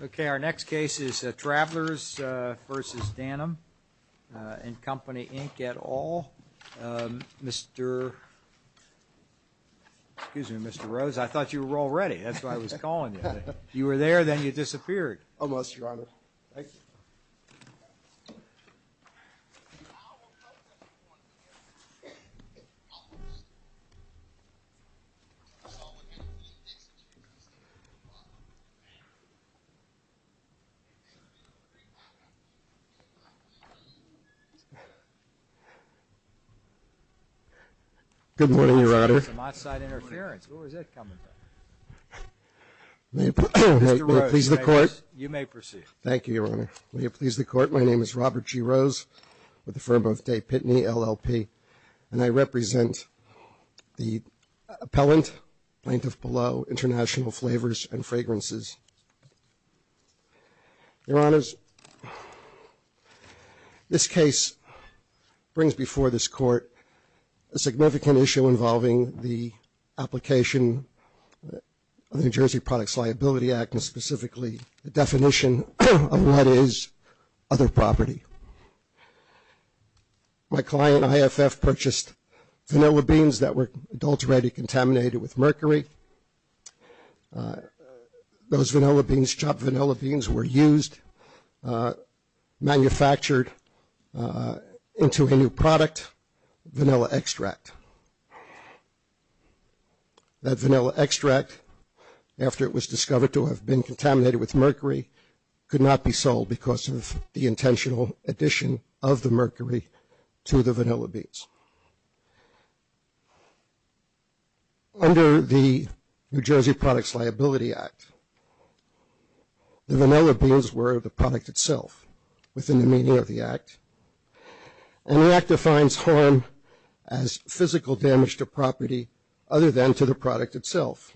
Okay, our next case is Travelers v. Dannem & Co Inc. et al. Mr., excuse me, Mr. Rose, I thought you were already, that's why I was calling you. You were there then you disappeared. Almost, your honor. Good morning, your honor. Mr. Rose, you may proceed. Thank you, your honor. Will you please the court. My name is Robert G. Rose with the firm of Day Pitney, LLP, and I represent the appellant, plaintiff below, International Flavors and Fragrances, your honors. This case brings before this court a significant issue involving the application of the New Jersey Products Liability Act and specifically the definition of what is other property. My client, IFF, purchased vanilla beans that were adulterated, contaminated with mercury. Those chopped vanilla beans were used, manufactured into a new product, vanilla extract. That vanilla extract, after it was discovered to have been contaminated with mercury, could not be sold because of the intentional addition of the mercury to the vanilla beans. Under the New Jersey Products Liability Act, the vanilla beans were the product itself, within the meaning of the act. And the act defines harm as physical damage to property other than to the product itself.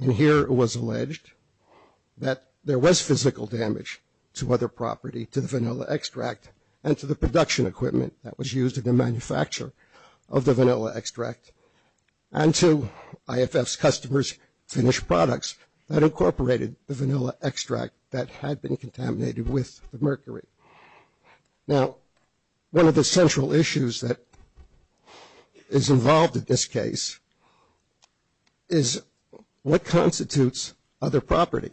And here it was alleged that there was physical damage to other property, to the vanilla extract, and to the production equipment that was used in the manufacturing of the product. Now, one of the central issues that is involved in this case is what constitutes other property.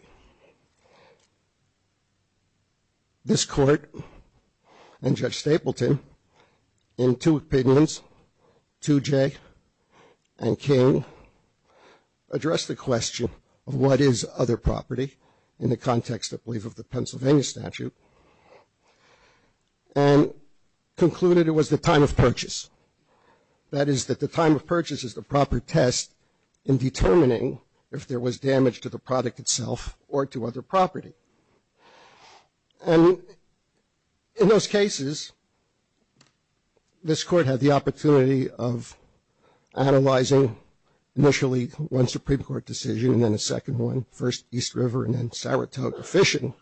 This court and Judge Stapleton, in two opinions, 2J and King, addressed the question of what is other property in the context, I believe, of the Pennsylvania statute and concluded it was the time of purchase. That is, that the time of purchase is the proper test in determining if there was damage to the product itself or to other property. And in those cases, this court had the opportunity of analyzing, initially, one Supreme Court decision and then a second one, first East River and then Saratoga fishing,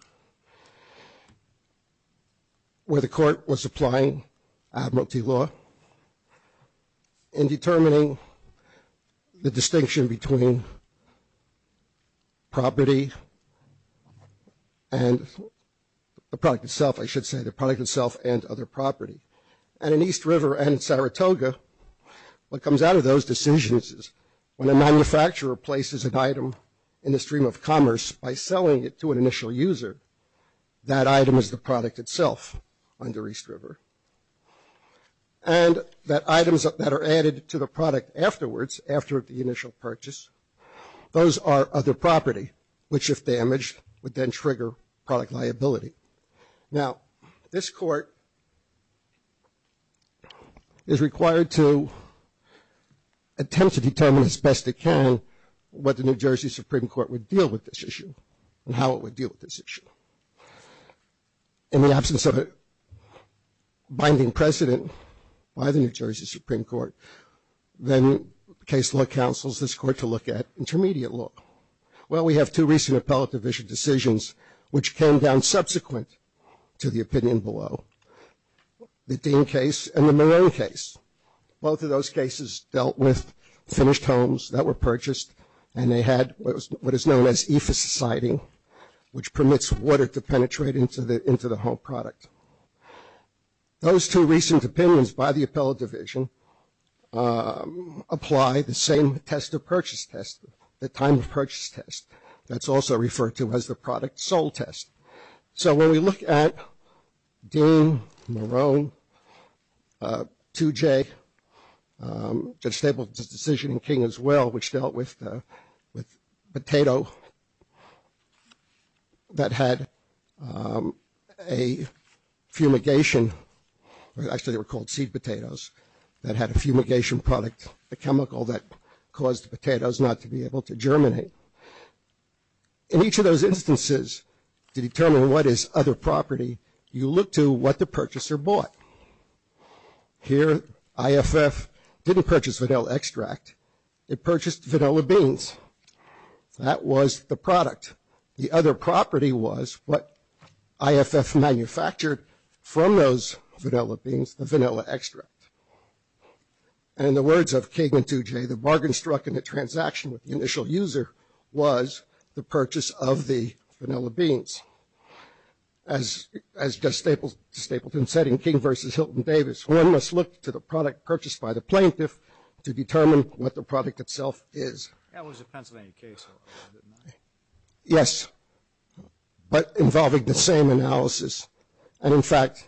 where the court was applying admiralty law. In determining the distinction between property and the product itself, I should say, the product itself and other property. And in East River and Saratoga, what comes out of those decisions is when a manufacturer places an item in the stream of commerce by selling it to an initial user, that item is the product itself under East River. And that items that are added to the product afterwards, after the initial purchase, those are other property, which, if damaged, would then trigger product liability. Now, this court is required to attempt to determine as best it can what the New Jersey Supreme Court would deal with this issue and how it would deal with this issue. In the absence of a binding precedent by the New Jersey Supreme Court, then case law counsels this court to look at intermediate law. Well, we have two recent appellate division decisions, which came down subsequent to the opinion below. The Dean case and the Marin case. Both of those cases dealt with finished homes that were purchased, and they had what is known as ephesusiding, which permits water to penetrate into the home product. Those two recent opinions by the appellate division apply the same test of purchase test, the time of purchase test. That's also referred to as the product sold test. So, when we look at Dean, Marone, 2J, the decision in King as well, which dealt with potato that had a fumigation, actually they were called seed potatoes, that had a fumigation product, a chemical that caused the potatoes not to be able to germinate. In each of those instances, to determine what is other property, you look to what the purchaser bought. Here, IFF didn't purchase vanilla extract. It purchased vanilla beans. That was the product. The other property was what IFF manufactured from those vanilla beans, the vanilla extract. And in the words of King and 2J, the bargain struck in the transaction with the initial user was the purchase of the vanilla beans. As just Stapleton said in King versus Hilton Davis, one must look to the product purchased by the plaintiff to determine what the product itself is. That was a Pennsylvania case. Yes. But involving the same analysis. And in fact,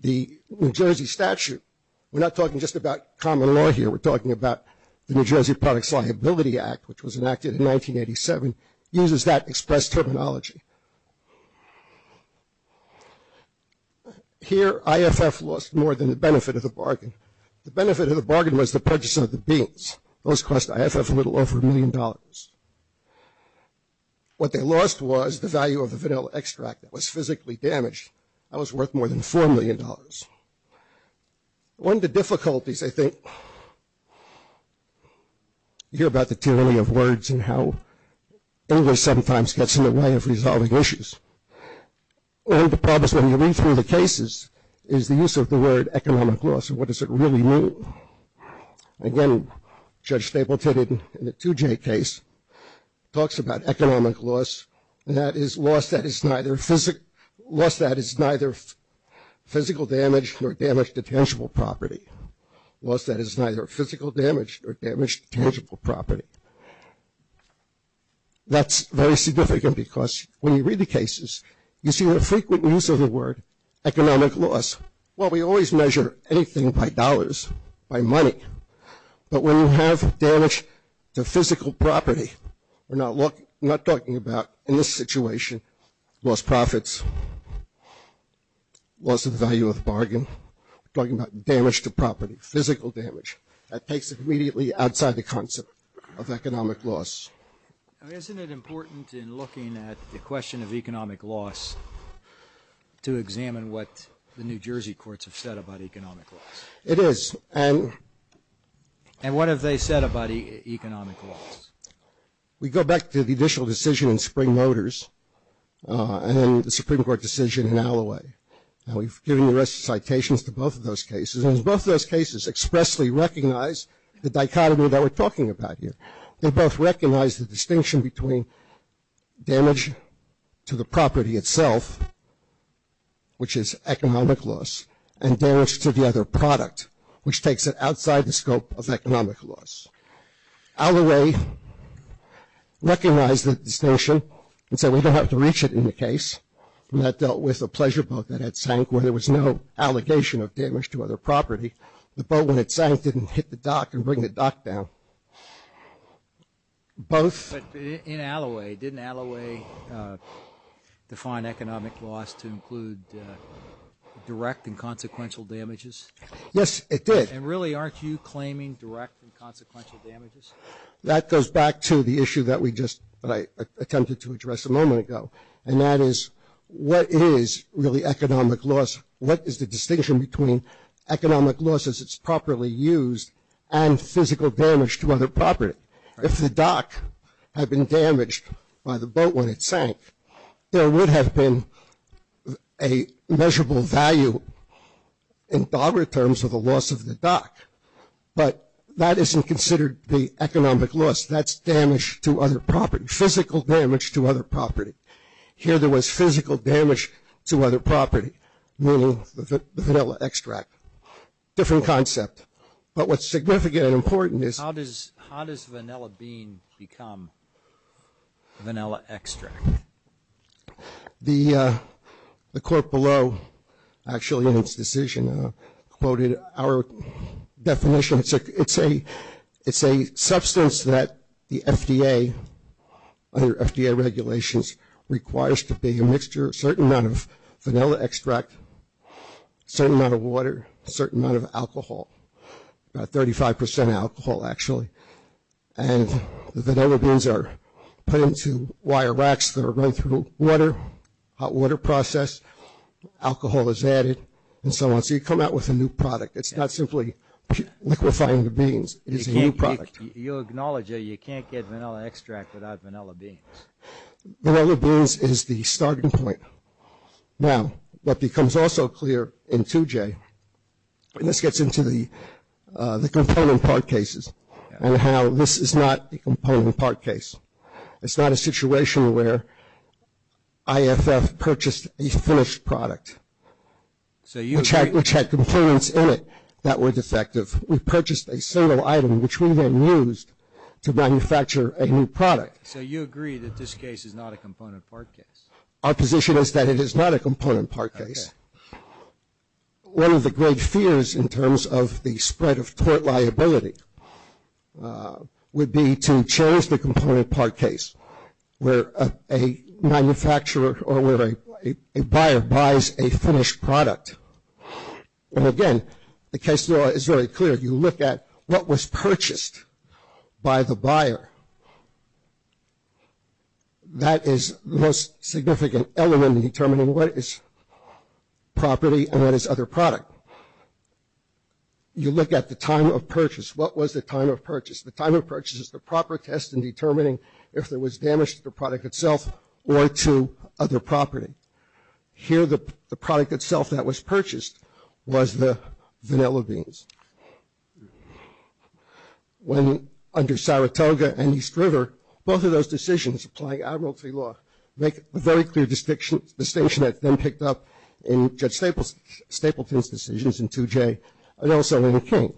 the New Jersey statute, we're not talking just about common law here, we're talking about the New Jersey Products Liability Act, which was enacted in 1987, uses that express terminology. Here, IFF lost more than the benefit of the bargain. The benefit of the bargain was the purchase of the beans. Those cost IFF a little over a million dollars. What they lost was the value of the vanilla extract that was physically damaged. That was worth more than $4 million. One of the difficulties, I think, you hear about the tyranny of words and how English sometimes gets in the way of resolving issues. One of the problems when you read through the cases is the use of the word economic loss and what does it really mean. Again, Judge Stapleton, in the 2J case, talks about economic loss. And that is loss that is neither physical damage nor damage to tangible property. Loss that is neither physical damage nor damage to tangible property. That's very significant because when you read the cases, you see the frequent use of the word economic loss. Well, we always measure anything by dollars, by money. But when you have damage to physical property, we're not talking about, in this situation, lost profits, loss of the value of the bargain. We're talking about damage to property, physical damage. That takes it immediately outside the concept of economic loss. Isn't it important in looking at the question of economic loss to examine what the New Jersey courts have said about economic loss? It is. And what have they said about economic loss? We go back to the initial decision in Spring Motors and the Supreme Court decision in Alloway. And we've given the rest of the citations to both of those cases. And both of those cases expressly recognize the dichotomy that we're talking about here. They both recognize the distinction between damage to the property itself, which is economic loss, and damage to the other product, which takes it outside the scope of economic loss. Alloway recognized the distinction and said we don't have to reach it in the case. And that dealt with a pleasure boat that had sank where there was no allegation of damage to other property. The boat, when it sank, didn't hit the dock and bring the dock down. Both. But in Alloway, didn't Alloway define economic loss to include direct and consequential damages? Yes, it did. And really aren't you claiming direct and consequential damages? That goes back to the issue that we just attempted to address a moment ago. And that is what is really economic loss? What is the distinction between economic loss as it's properly used and physical damage to other property? If the dock had been damaged by the boat when it sank, there would have been a measurable value in DOBRA terms of the loss of the dock. But that isn't considered the economic loss. That's damage to other property, physical damage to other property. Here there was physical damage to other property, meaning the vanilla extract. Different concept. But what's significant and important is- How does vanilla bean become vanilla extract? The court below actually in its decision quoted our definition. It's a substance that the FDA, under FDA regulations, requires to be a mixture of a certain amount of vanilla extract, a certain amount of water, a certain amount of alcohol, about 35% alcohol actually. And the vanilla beans are put into wire racks that are run through water, hot water process. Alcohol is added and so on. So you come out with a new product. It's not simply liquefying the beans. It is a new product. You acknowledge that you can't get vanilla extract without vanilla beans. Vanilla beans is the starting point. Now, what becomes also clear in 2J, and this gets into the component part cases and how this is not a component part case. It's not a situation where IFF purchased a finished product which had components in it. That were defective. We purchased a single item which we then used to manufacture a new product. So you agree that this case is not a component part case? Our position is that it is not a component part case. One of the great fears in terms of the spread of tort liability would be to change the component part case where a manufacturer or where a buyer buys a finished product. And again, the case law is very clear. You look at what was purchased by the buyer. That is the most significant element in determining what is property and what is other product. You look at the time of purchase. What was the time of purchase? The time of purchase is the proper test in determining if there was damage to the product itself or to other property. Here the product itself that was purchased was the vanilla beans. When under Saratoga and East River, both of those decisions applying admiralty law, make a very clear distinction that then picked up in Judge Stapleton's decisions in 2J and also in King.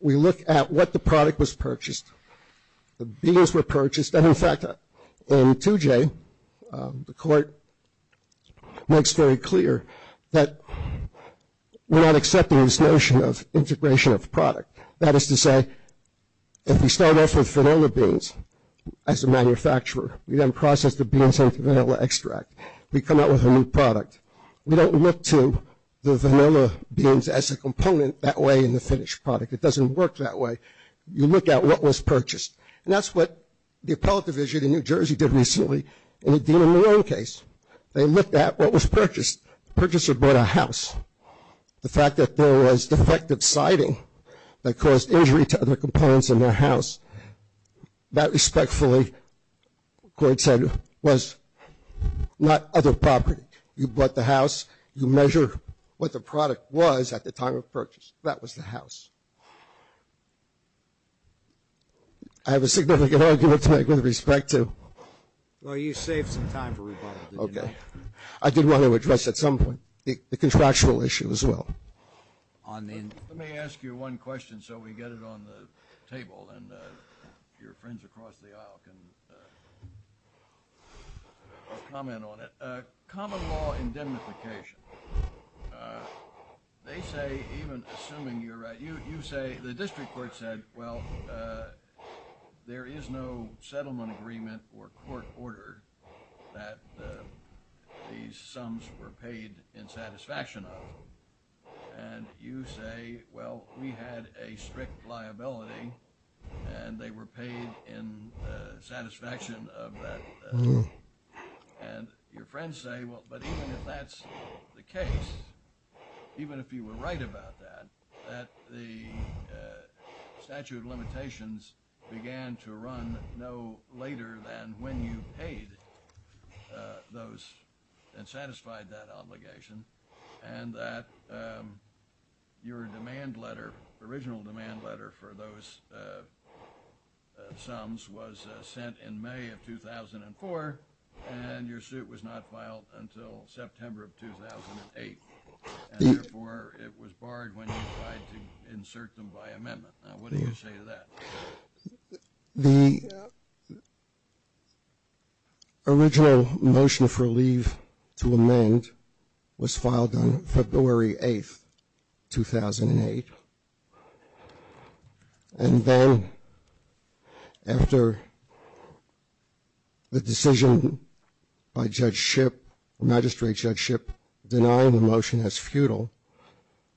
We look at what the product was purchased. The beans were purchased. In fact, in 2J, the court makes very clear that we're not accepting this notion of integration of product. That is to say, if we start off with vanilla beans as a manufacturer, we then process the beans into vanilla extract. We come out with a new product. We don't look to the vanilla beans as a component that way in the finished product. It doesn't work that way. You look at what was purchased. And that's what the appellate division in New Jersey did recently in the Dean and Malone case. They looked at what was purchased. The purchaser bought a house. The fact that there was defective siding that caused injury to other components in their house, that respectfully, the court said, was not other property. You bought the house. You measure what the product was at the time of purchase. That was the house. I have a significant argument to make with respect to. Well, you saved some time for rebuttal, didn't you? Okay. I did want to address at some point the contractual issue as well. Let me ask you one question so we get it on the table and your friends across the aisle can comment on it. Common law indemnification. They say, even assuming you're right, you say the district court said, well, there is no settlement agreement or court order that these sums were paid in satisfaction of. And you say, well, we had a strict liability and they were paid in satisfaction of that. And your friends say, well, but even if that's the case, even if you were right about that, that the statute of limitations began to run no later than when you paid those and satisfied that obligation. And that your demand letter, original demand letter for those sums was sent in May of 2004, and your suit was not filed until September of 2008. And therefore, it was barred when you tried to insert them by amendment. Now, what do you say to that? The original motion for leave to amend was filed on February 8, 2008. And then after the decision by Judge Shipp, Magistrate Judge Shipp, denying the motion as futile,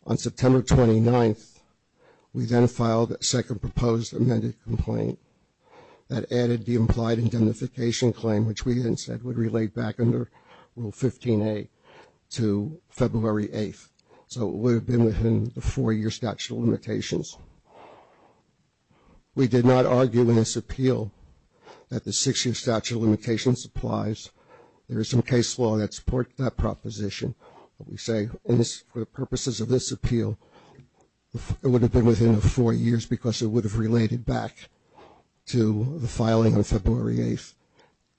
on September 29th, we then filed a second proposed amended complaint that added the implied indemnification claim, which we then said would relate back under Rule 15A to February 8th. So it would have been within the four-year statute of limitations. We did not argue in this appeal that the six-year statute of limitations applies. And we say for the purposes of this appeal, it would have been within the four years because it would have related back to the filing on February 8th,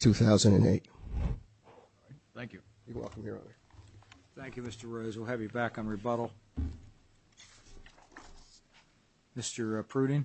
2008. Thank you. You're welcome, Your Honor. Thank you, Mr. Rose. We'll have you back on rebuttal. Mr. Pruding.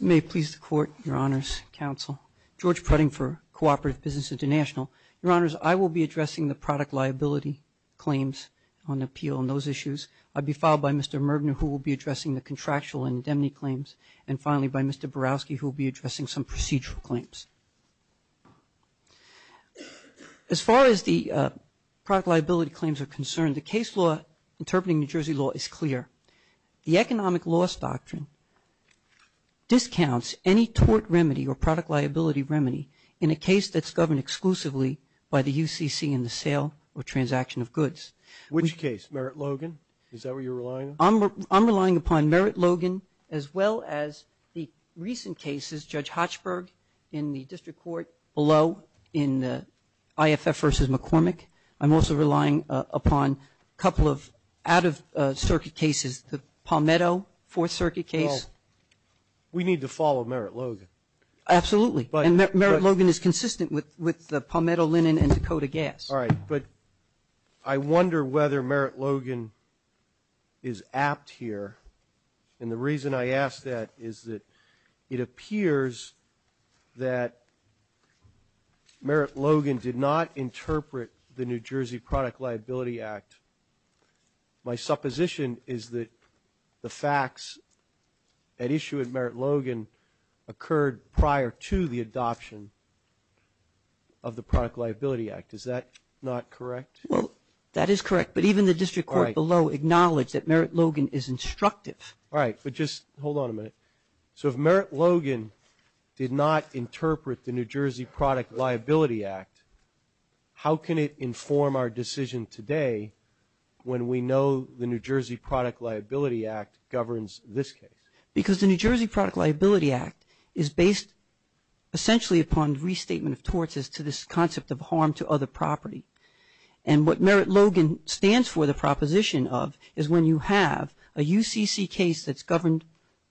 May it please the Court, Your Honors, Counsel. George Pruding for Cooperative Business International. Your Honors, I will be addressing the product liability claims on appeal on those issues. I'll be followed by Mr. Mergener, who will be addressing the contractual indemnity claims, and finally by Mr. Borowski, who will be addressing some procedural claims. As far as the product liability claims are concerned, the case law interpreting New Jersey law is clear. The economic loss doctrine discounts any tort remedy or product liability remedy in a case that's governed exclusively by the UCC in the sale or transaction of goods. Which case? Merritt-Logan? Is that what you're relying on? I'm relying upon Merritt-Logan as well as the recent cases, Judge Hochberg in the district court below in the IFF versus McCormick. I'm also relying upon a couple of out-of-circuit cases, the Palmetto Fourth Circuit case. Well, we need to follow Merritt-Logan. Absolutely. And Merritt-Logan is consistent with the Palmetto, Linen, and Dakota gas. All right. But I wonder whether Merritt-Logan is apt here. And the reason I ask that is that it appears that Merritt-Logan did not interpret the New Jersey Product Liability Act. My supposition is that the facts at issue at Merritt-Logan occurred prior to the adoption of the Product Liability Act. Is that not correct? Well, that is correct. But even the district court below acknowledged that Merritt-Logan is instructive. All right. But just hold on a minute. So if Merritt-Logan did not interpret the New Jersey Product Liability Act, how can it inform our decision today when we know the New Jersey Product Liability Act governs this case? Because the New Jersey Product Liability Act is based essentially upon restatement of torts as to this concept of harm to other property. And what Merritt-Logan stands for, the proposition of, is when you have a UCC case that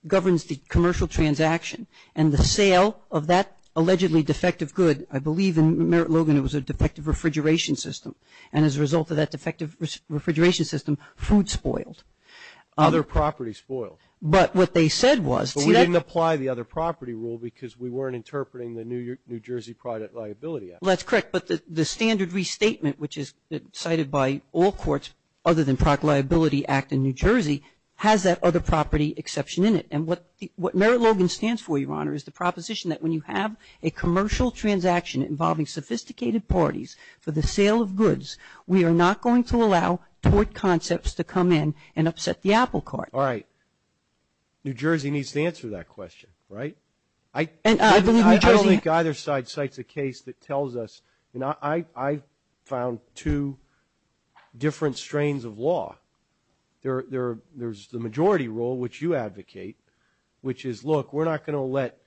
governs the commercial transaction and the sale of that allegedly defective good. I believe in Merritt-Logan it was a defective refrigeration system. And as a result of that defective refrigeration system, food spoiled. Other property spoiled. But what they said was see that But we didn't apply the other property rule because we weren't interpreting the New Jersey Product Liability Act. Well, that's correct. But the standard restatement, which is cited by all courts other than Product Liability Act in New Jersey, has that other property exception in it. And what Merritt-Logan stands for, Your Honor, is the proposition that when you have a commercial transaction involving sophisticated parties for the sale of goods, we are not going to allow tort concepts to come in and upset the apple cart. All right. New Jersey needs to answer that question, right? I don't think either side cites a case that tells us. I found two different strains of law. There's the majority rule, which you advocate, which is, look, we're not going to let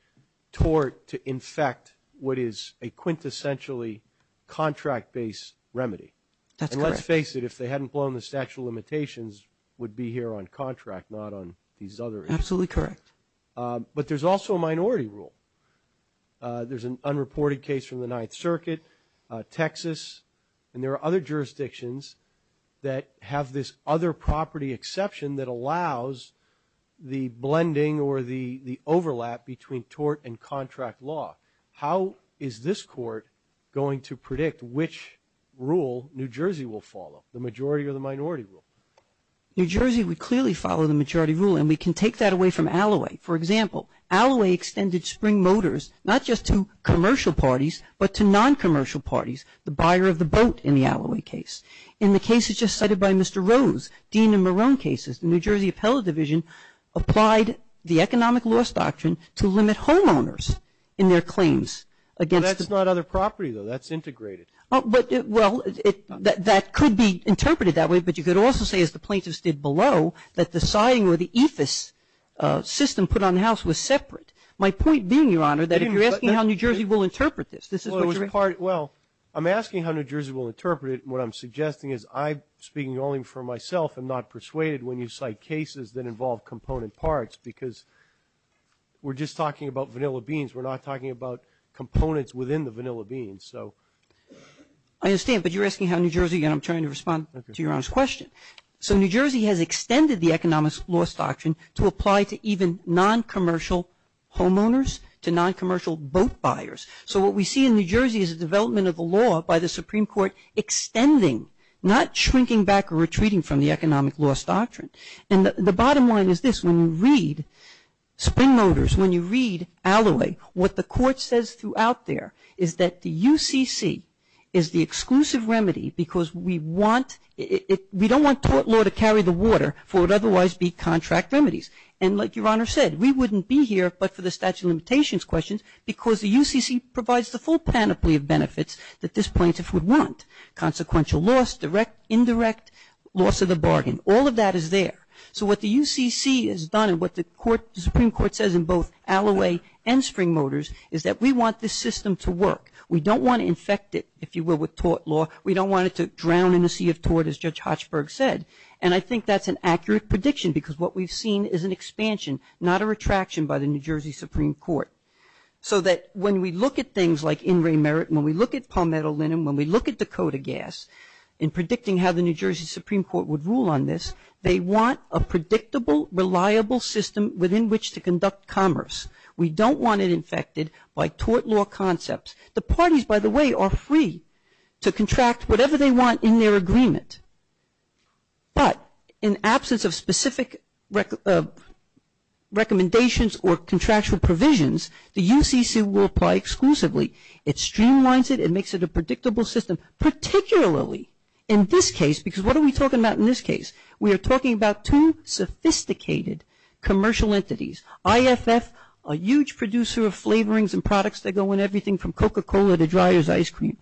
tort infect what is a quintessentially contract-based remedy. That's correct. And let's face it, if they hadn't blown the statute of limitations, we'd be here on contract, not on these other issues. Absolutely correct. But there's also a minority rule. There's an unreported case from the Ninth Circuit, Texas, and there are other jurisdictions that have this other property exception that allows the blending or the overlap between tort and contract law. How is this Court going to predict which rule New Jersey will follow, the majority or the minority rule? New Jersey would clearly follow the majority rule, and we can take that away from Alloway. For example, Alloway extended spring motors not just to commercial parties, but to non-commercial parties, the buyer of the boat in the Alloway case. In the cases just cited by Mr. Rose, Dean and Marone cases, the New Jersey Appellate Division applied the economic loss doctrine to limit homeowners in their claims against them. Well, that's not other property, though. That's integrated. But, well, that could be interpreted that way, but you could also say, as the plaintiffs did below, that the siding or the EFIS system put on the house was separate. My point being, Your Honor, that if you're asking how New Jersey will interpret this, this is what you're asking. Well, I'm asking how New Jersey will interpret it, and what I'm suggesting is I, speaking only for myself, am not persuaded when you cite cases that involve component parts, because we're just talking about vanilla beans. We're not talking about components within the vanilla beans. I understand, but you're asking how New Jersey, and I'm trying to respond to Your Honor's question. So New Jersey has extended the economic loss doctrine to apply to even non-commercial homeowners, to non-commercial boat buyers. So what we see in New Jersey is a development of the law by the Supreme Court extending, not shrinking back or retreating from the economic loss doctrine. And the bottom line is this. When you read Spring Motors, when you read Alloway, what the court says throughout there is that the UCC is the exclusive remedy because we want, we don't want tort law to carry the water for what would otherwise be contract remedies. And like Your Honor said, we wouldn't be here but for the statute of limitations questions because the UCC provides the full panoply of benefits that this plaintiff would want, consequential loss, indirect loss of the bargain. All of that is there. So what the UCC has done and what the Supreme Court says in both Alloway and Spring Motors is that we want this system to work. We don't want to infect it, if you will, with tort law. We don't want it to drown in a sea of tort as Judge Hochberg said. And I think that's an accurate prediction because what we've seen is an expansion, not a retraction by the New Jersey Supreme Court. So that when we look at things like in remerit, when we look at Palmetto Linen, when we look at Dakota Gas in predicting how the New Jersey Supreme Court would rule on this, they want a predictable, reliable system within which to conduct commerce. We don't want it infected by tort law concepts. The parties, by the way, are free to contract whatever they want in their agreement. But in absence of specific recommendations or contractual provisions, the UCC will apply exclusively. It streamlines it, it makes it a predictable system, particularly in this case we are talking about two sophisticated commercial entities. IFF, a huge producer of flavorings and products that go in everything from Coca-Cola to dryer's ice cream.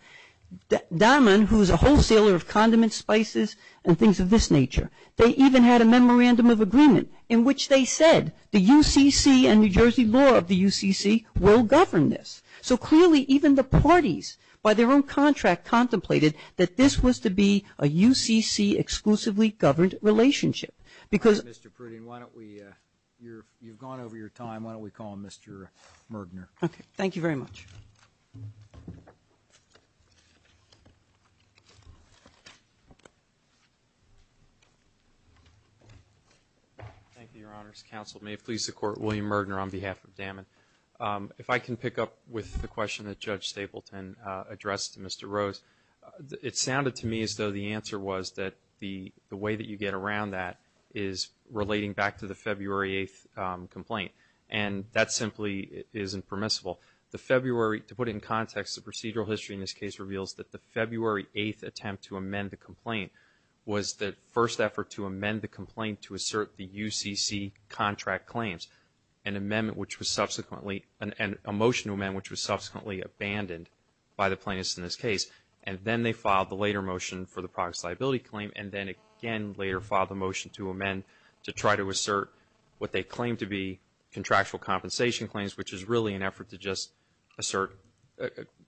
Dahman, who is a wholesaler of condiments, spices, and things of this nature. They even had a memorandum of agreement in which they said the UCC and New Jersey law of the UCC will govern this. So clearly even the parties, by their own contract, contemplated that this was to be a UCC exclusively governed relationship. Mr. Pruden, you've gone over your time. Why don't we call on Mr. Mirdner. Thank you very much. Thank you, Your Honors. Counsel, may it please the Court, William Mirdner on behalf of Dahman. If I can pick up with the question that Judge Stapleton addressed to Mr. Rose. It sounded to me as though the answer was that the way that you get around that is relating back to the February 8th complaint. And that simply isn't permissible. To put it in context, the procedural history in this case reveals that the February 8th attempt to amend the complaint was the first effort to amend the complaint to assert the UCC contract claims, an amendment which was subsequently, a motion to amend which was subsequently abandoned by the plaintiffs in this case. And then they filed the later motion for the products liability claim. And then again later filed a motion to amend to try to assert what they claim to be contractual compensation claims, which is really an effort to just assert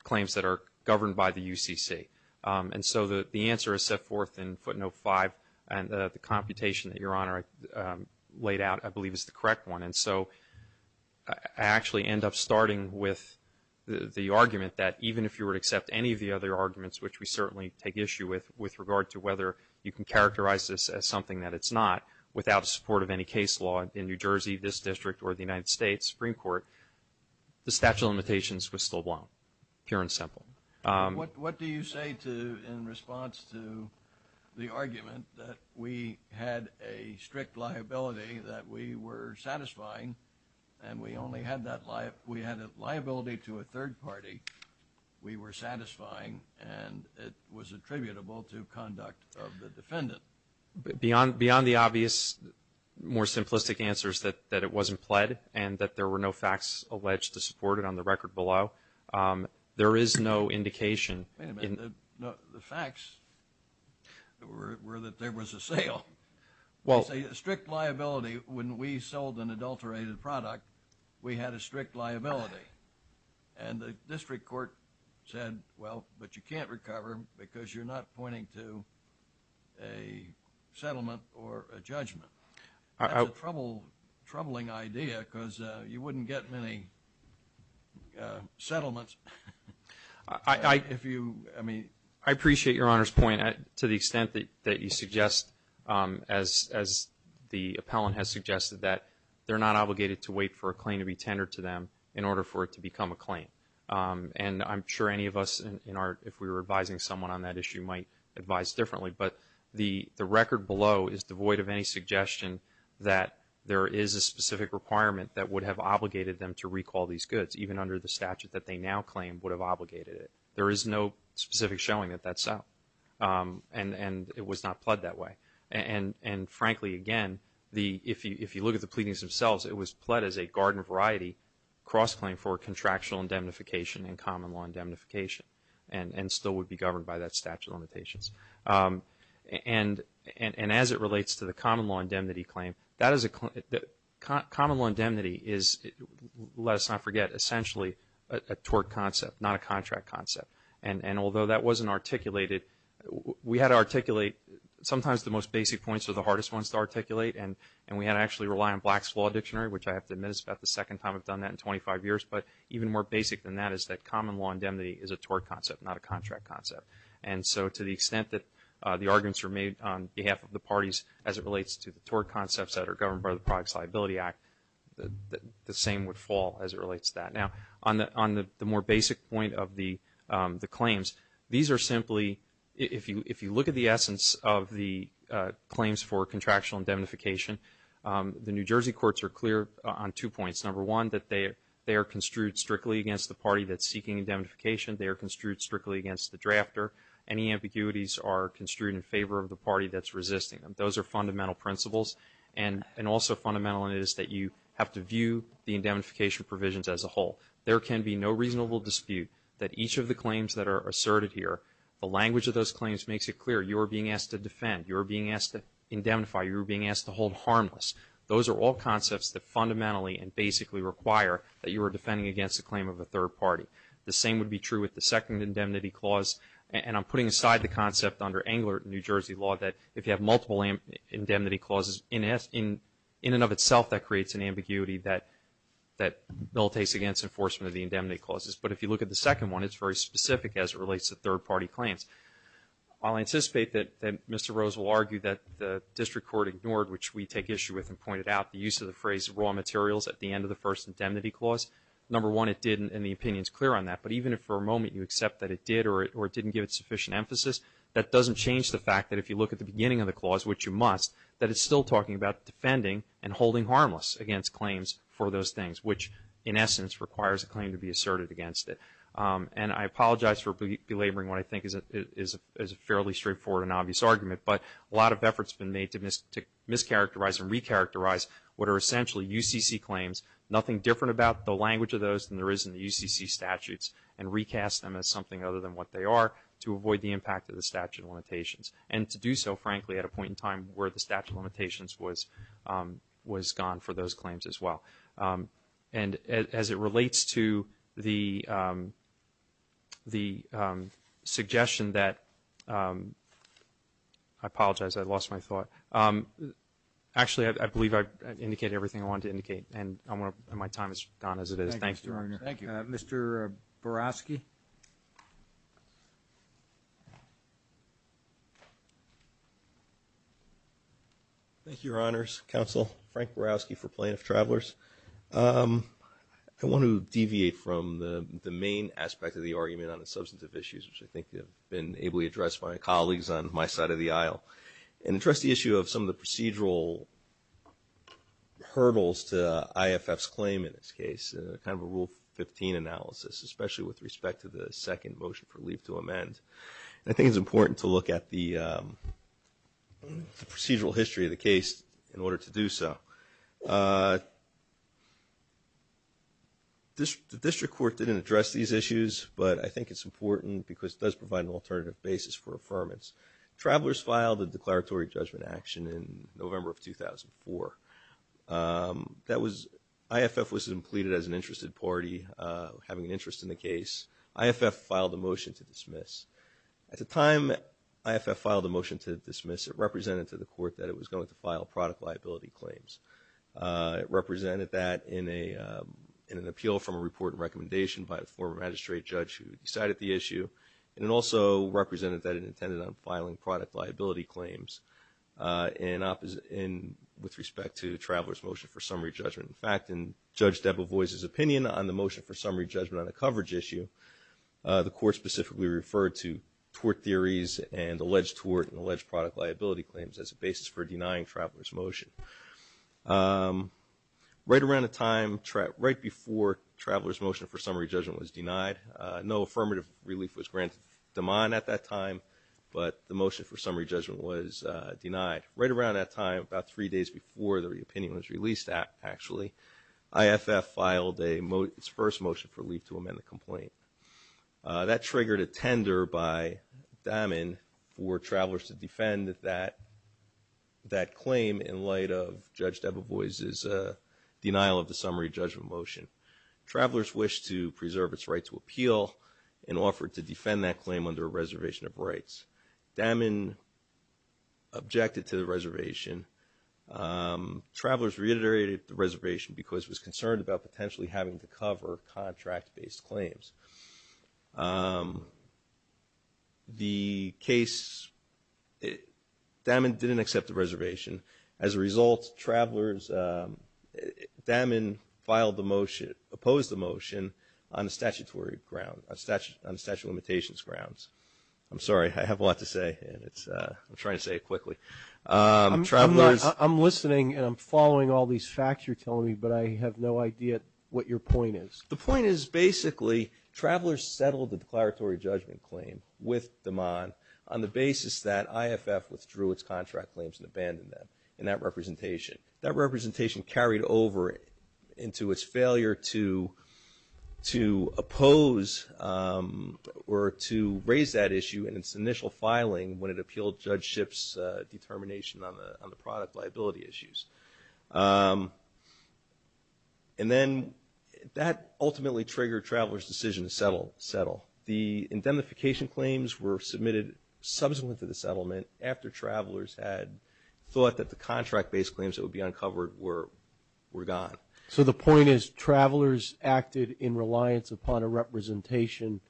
claims that are governed by the UCC. And so the answer is set forth in footnote 5. And the computation that Your Honor laid out I believe is the correct one. And so I actually end up starting with the argument that even if you were to accept any of the other arguments, which we certainly take issue with, with regard to whether you can characterize this as something that it's not, without the support of any case law in New Jersey, this district, or the United States Supreme Court, the statute of limitations was still blown, pure and simple. What do you say to in response to the argument that we had a strict liability that we were satisfying and we only had that liability to a third party, we were satisfying, and it was attributable to conduct of the defendant? Beyond the obvious, more simplistic answers that it wasn't pled and that there were no facts alleged to support it on the record below, there is no indication. Wait a minute. The facts were that there was a sale. Well. It's a strict liability when we sold an adulterated product, we had a strict liability. And the district court said, well, but you can't recover because you're not pointing to a settlement or a judgment. That's a troubling idea because you wouldn't get many settlements if you, I mean. I appreciate Your Honor's point to the extent that you suggest, as the appellant has suggested, that they're not obligated to wait for a claim to be tendered to them in order for it to become a claim. And I'm sure any of us in our, if we were advising someone on that issue, might advise differently. But the record below is devoid of any suggestion that there is a specific requirement that would have obligated them to recall these goods, even under the statute that they now claim would have obligated it. There is no specific showing that that's so. And it was not pled that way. And frankly, again, if you look at the pleadings themselves, it was pled as a garden variety cross-claim for contractual indemnification and common law indemnification and still would be governed by that statute of limitations. And as it relates to the common law indemnity claim, that is a, common law indemnity is, let us not forget, essentially a tort concept, not a contract concept. And although that wasn't articulated, we had to articulate, sometimes the most basic points are the hardest ones to articulate. And we had to actually rely on Black's Law Dictionary, which I have to admit is about the second time I've done that in 25 years. But even more basic than that is that common law indemnity is a tort concept, not a contract concept. And so to the extent that the arguments are made on behalf of the parties as it relates to the tort concepts that are governed by the Product Liability Act, the same would fall as it relates to that. Now, on the more basic point of the claims, these are simply, if you look at the essence of the claims for contractual indemnification, the New Jersey courts are clear on two points. Number one, that they are construed strictly against the party that's seeking indemnification. They are construed strictly against the drafter. Any ambiguities are construed in favor of the party that's resisting them. Those are fundamental principles. And also fundamental is that you have to view the indemnification provisions as a whole. There can be no reasonable dispute that each of the claims that are asserted here, the language of those claims makes it clear you are being asked to defend, you are being asked to indemnify, you are being asked to hold harmless. Those are all concepts that fundamentally and basically require that you are defending against a claim of a third party. The same would be true with the second indemnity clause. And I'm putting aside the concept under angular New Jersey law that if you have multiple indemnity clauses, in and of itself, that creates an ambiguity that bill takes against enforcement of the indemnity clauses. But if you look at the second one, it's very specific as it relates to third party claims. I'll anticipate that Mr. Rose will argue that the district court ignored, which we take issue with and pointed out, the use of the phrase raw materials at the end of the first indemnity clause. Number one, it didn't and the opinion is clear on that. But even if for a moment you accept that it did or it didn't give it sufficient emphasis, that doesn't change the fact that if you look at the beginning of the clause, which you must, that it's still talking about defending and holding harmless against claims for those things, which in essence requires a claim to be asserted against it. And I apologize for belaboring what I think is a fairly straightforward and obvious argument. But a lot of effort has been made to mischaracterize and recharacterize what are essentially UCC claims, nothing different about the language of those than there is in the UCC statutes, and recast them as something other than what they are to avoid the impact of the statute of limitations. And to do so, frankly, at a point in time where the statute of limitations was gone for those claims as well. And as it relates to the suggestion that, I apologize, I lost my thought. Actually, I believe I've indicated everything I wanted to indicate. And my time has gone as it is. Thanks, Your Honor. Thank you. Mr. Barofsky. Thank you, Your Honors, Counsel, Frank Barofsky for Plaintiff Travelers. I want to deviate from the main aspect of the argument on the substantive issues, which I think have been ably addressed by my colleagues on my side of the aisle. And I trust the issue of some of the procedural hurdles to IFF's claim in this case, kind of a Rule 15 analysis, especially with respect to the second motion for leave to amend. And I think it's important to look at the procedural history of the case in order to do so. The district court didn't address these issues, but I think it's important because it does provide an alternative basis for affirmance. Travelers filed a declaratory judgment action in November of 2004. IFF was completed as an interested party, having an interest in the case. IFF filed a motion to dismiss. At the time IFF filed the motion to dismiss, it represented to the court that it was going to file product liability claims. It represented that in an appeal from a report and recommendation by a former magistrate judge who decided the issue. And it also represented that it intended on filing product liability claims with respect to the Traveler's Motion for Summary Judgment. In fact, in Judge Debevoise's opinion on the Motion for Summary Judgment on a coverage issue, the court specifically referred to tort theories and alleged tort and alleged product liability claims as a basis for denying Traveler's Motion. Right around the time, right before Traveler's Motion for Summary Judgment was denied, no affirmative relief was granted to DEMON at that time, but the Motion for Summary Judgment was denied. Right around that time, about three days before the opinion was released actually, IFF filed its first Motion for Relief to amend the complaint. That triggered a tender by DAMEN for travelers to defend that claim in light of Judge Debevoise's denial of the Summary Judgment motion. Travelers wished to preserve its right to appeal and offered to defend that claim under a reservation of rights. DAMEN objected to the reservation. Travelers reiterated the reservation because it was concerned about potentially having to cover contract-based claims. The case, DAMEN didn't accept the reservation. As a result, travelers, DAMEN filed the motion, opposed the motion on the statutory grounds, on the statute of limitations grounds. I'm sorry, I have a lot to say, and it's, I'm trying to say it quickly. Travelers. I'm listening and I'm following all these facts you're telling me, but I have no idea what your point is. The point is basically, travelers settled the declaratory judgment claim with DEMON on the basis that IFF withdrew its contract claims and abandoned them in that representation. That representation carried over into its failure to oppose or to raise that issue in its initial filing when it appealed Judge Schiff's determination on the product liability issues. And then that ultimately triggered travelers' decision to settle. The indemnification claims were submitted subsequent to the settlement after travelers had thought that the contract-based claims that would be uncovered were gone. So the point is travelers acted in reliance upon a representation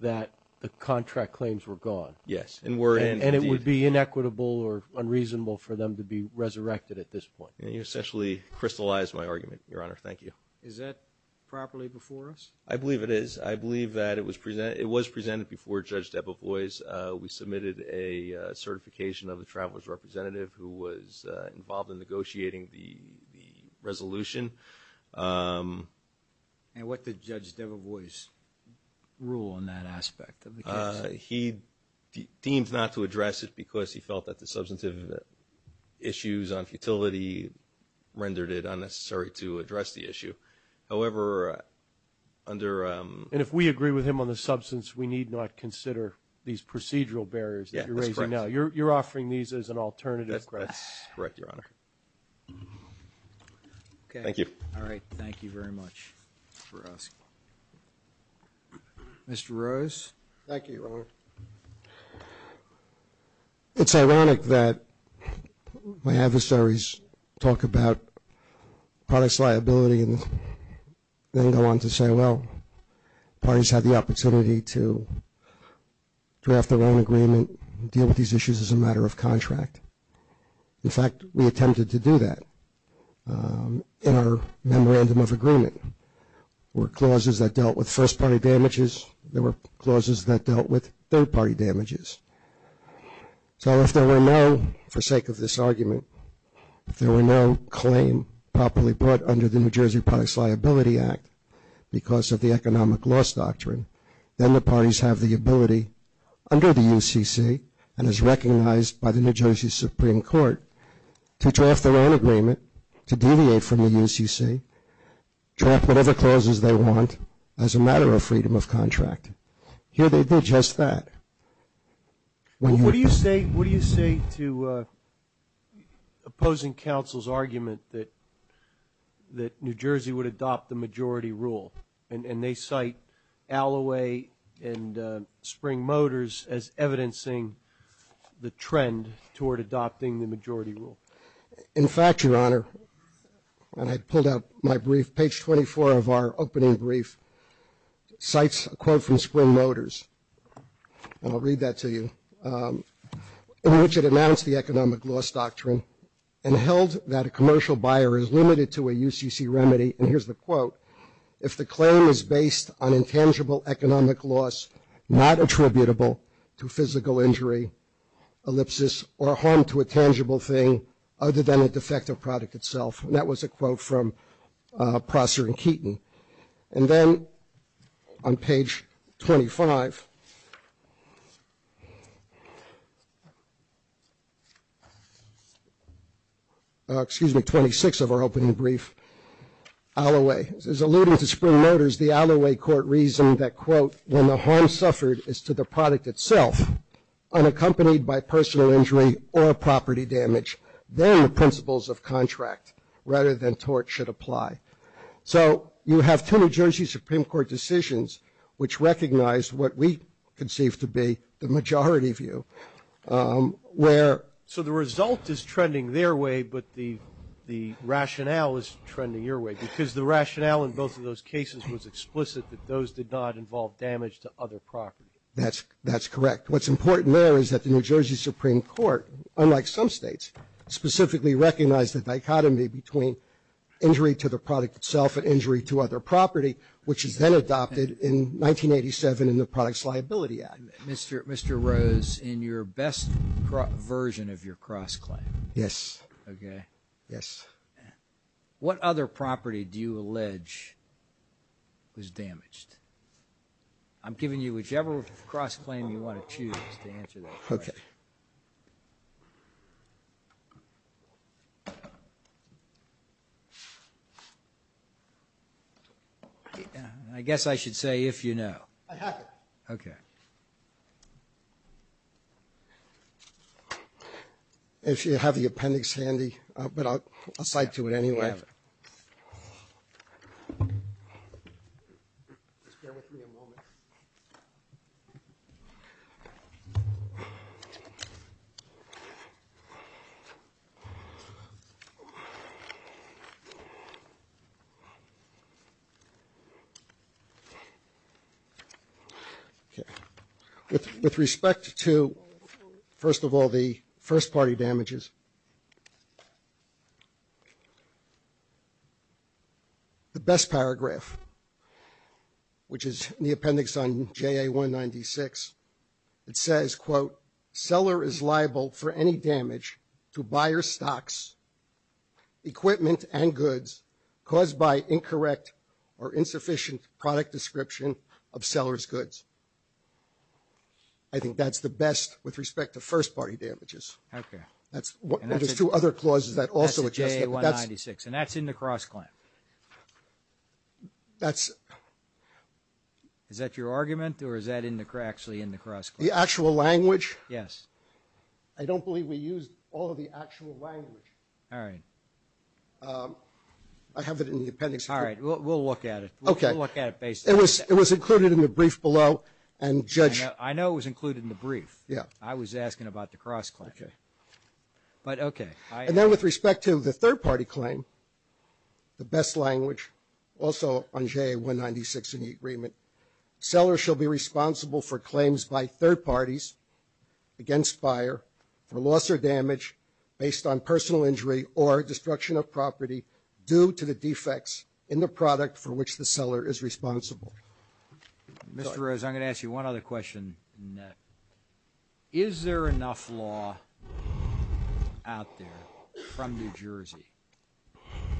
that the contract claims were gone. Yes. And it would be inequitable or unreasonable for them to be resurrected at this point. You essentially crystallized my argument, Your Honor. Thank you. Is that properly before us? I believe it is. I believe that it was presented before Judge Debevoise. We submitted a certification of the travelers' representative who was involved in negotiating the resolution. And what did Judge Debevoise rule on that aspect of the case? He deemed not to address it because he felt that the substantive issues on futility rendered it unnecessary to address the issue. However, under – And if we agree with him on the substance, we need not consider these procedural barriers that you're raising now. You're offering these as an alternative. That's correct, Your Honor. Okay. Thank you. All right. Thank you very much for asking. Mr. Rose? Thank you, Your Honor. It's ironic that my adversaries talk about products' liability and then go on to say, well, parties have the opportunity to draft their own agreement, deal with these issues as a matter of contract. In fact, we attempted to do that in our memorandum of agreement. There were clauses that dealt with first-party damages. There were clauses that dealt with third-party damages. So if there were no, for sake of this argument, if there were no claim properly brought under the New Jersey Products Liability Act because of the economic loss doctrine, then the parties have the ability under the UCC and as recognized by the New Jersey Supreme Court to draft their own agreement to deviate from the UCC, draft whatever clauses they want as a matter of freedom of contract. Here they did just that. What do you say to opposing counsel's argument that New Jersey would adopt the majority rule? And they cite Alloway and Spring Motors as evidencing the trend toward adopting the majority rule. In fact, Your Honor, and I pulled out my brief, page 24 of our opening brief, cites a quote from Spring Motors, and I'll read that to you, in which it announced the economic loss doctrine and held that a commercial buyer is limited to a UCC remedy, and here's the quote, if the claim is based on intangible economic loss not attributable to physical injury, ellipsis, or harm to a tangible thing other than a defective product itself. And that was a quote from Prosser and Keaton. And then on page 25, excuse me, 26 of our opening brief, Alloway. It's alluding to Spring Motors, the Alloway court reasoned that, quote, when the harm suffered is to the product itself, unaccompanied by personal injury or property damage, then the principles of contract rather than tort should apply. So you have two New Jersey Supreme Court decisions which recognize what we conceive to be the majority view. So the result is trending their way, but the rationale is trending your way, because the rationale in both of those cases was explicit that those did not involve damage to other property. That's correct. What's important there is that the New Jersey Supreme Court, unlike some states, specifically recognized the dichotomy between injury to the product itself and injury to other property, which is then adopted in 1987 in the Products Liability Act. Mr. Rose, in your best version of your cross-claim. Yes. Okay. Yes. What other property do you allege was damaged? I'm giving you whichever cross-claim you want to choose to answer that question. Okay. I guess I should say if you know. I have it. Okay. If you have the appendix handy, but I'll cite to it anyway. I have it. Just bear with me a moment. Okay. With respect to, first of all, the first-party damages, the best paragraph, which is in the appendix on JA 196, it says, quote, seller is liable for any damage to buyer's stocks, equipment, and goods caused by incorrect or insufficient product description of seller's goods. I think that's the best with respect to first-party damages. Okay. There's two other clauses that also address that. That's in JA 196, and that's in the cross-claim. Is that your argument, or is that actually in the cross-claim? The actual language? Yes. I don't believe we used all of the actual language. All right. I have it in the appendix. All right. We'll look at it. Okay. We'll look at it based on that. It was included in the brief below, and Judge — I know it was included in the brief. Yeah. I was asking about the cross-claim. Okay. But, okay. And then with respect to the third-party claim, the best language, also on JA 196 in the agreement, seller shall be responsible for claims by third parties against buyer for loss or damage based on personal injury or destruction of property due to the defects in the product for which the seller is responsible. Mr. Rose, I'm going to ask you one other question. Is there enough law out there from New Jersey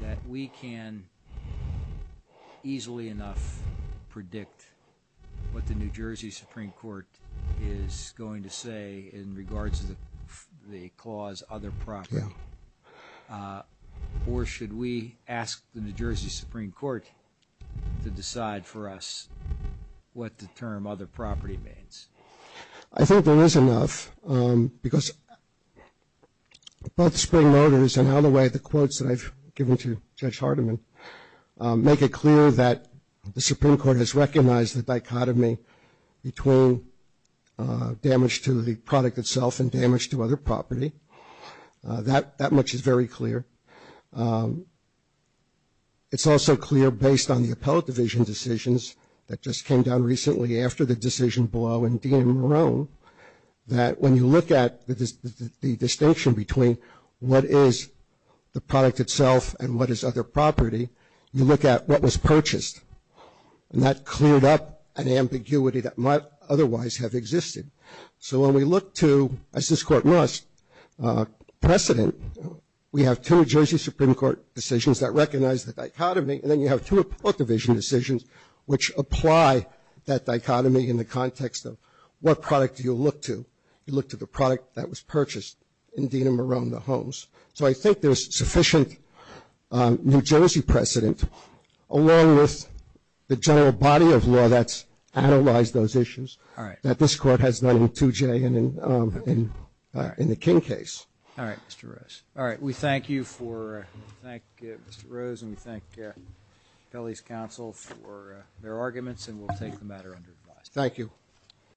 that we can easily enough predict what the New Jersey Supreme Court is going to say in regards to the property clause, other property? Yeah. Or should we ask the New Jersey Supreme Court to decide for us what the term other property means? I think there is enough because both Spring Motors and all the way the quotes that I've given to Judge Hardiman make it clear that the Supreme Court has recognized the dichotomy between damage to the product itself and damage to other property. That much is very clear. It's also clear based on the appellate division decisions that just came down recently after the decision blow in Dean and Marone that when you look at the distinction between what is the product itself and what is other property, you look at what was purchased. And that cleared up an ambiguity that might otherwise have existed. So when we look to, as this Court must, precedent, we have two New Jersey Supreme Court decisions that recognize the dichotomy and then you have two appellate division decisions which apply that dichotomy in the context of what product do you look to. You look to the product that was purchased in Dean and Marone, the homes. So I think there's sufficient New Jersey precedent along with the general body of decisions that this Court has done in 2J and in the King case. All right, Mr. Rose. All right. We thank you for Mr. Rose and we thank Kelly's counsel for their arguments and we'll take the matter under advice. Thank you.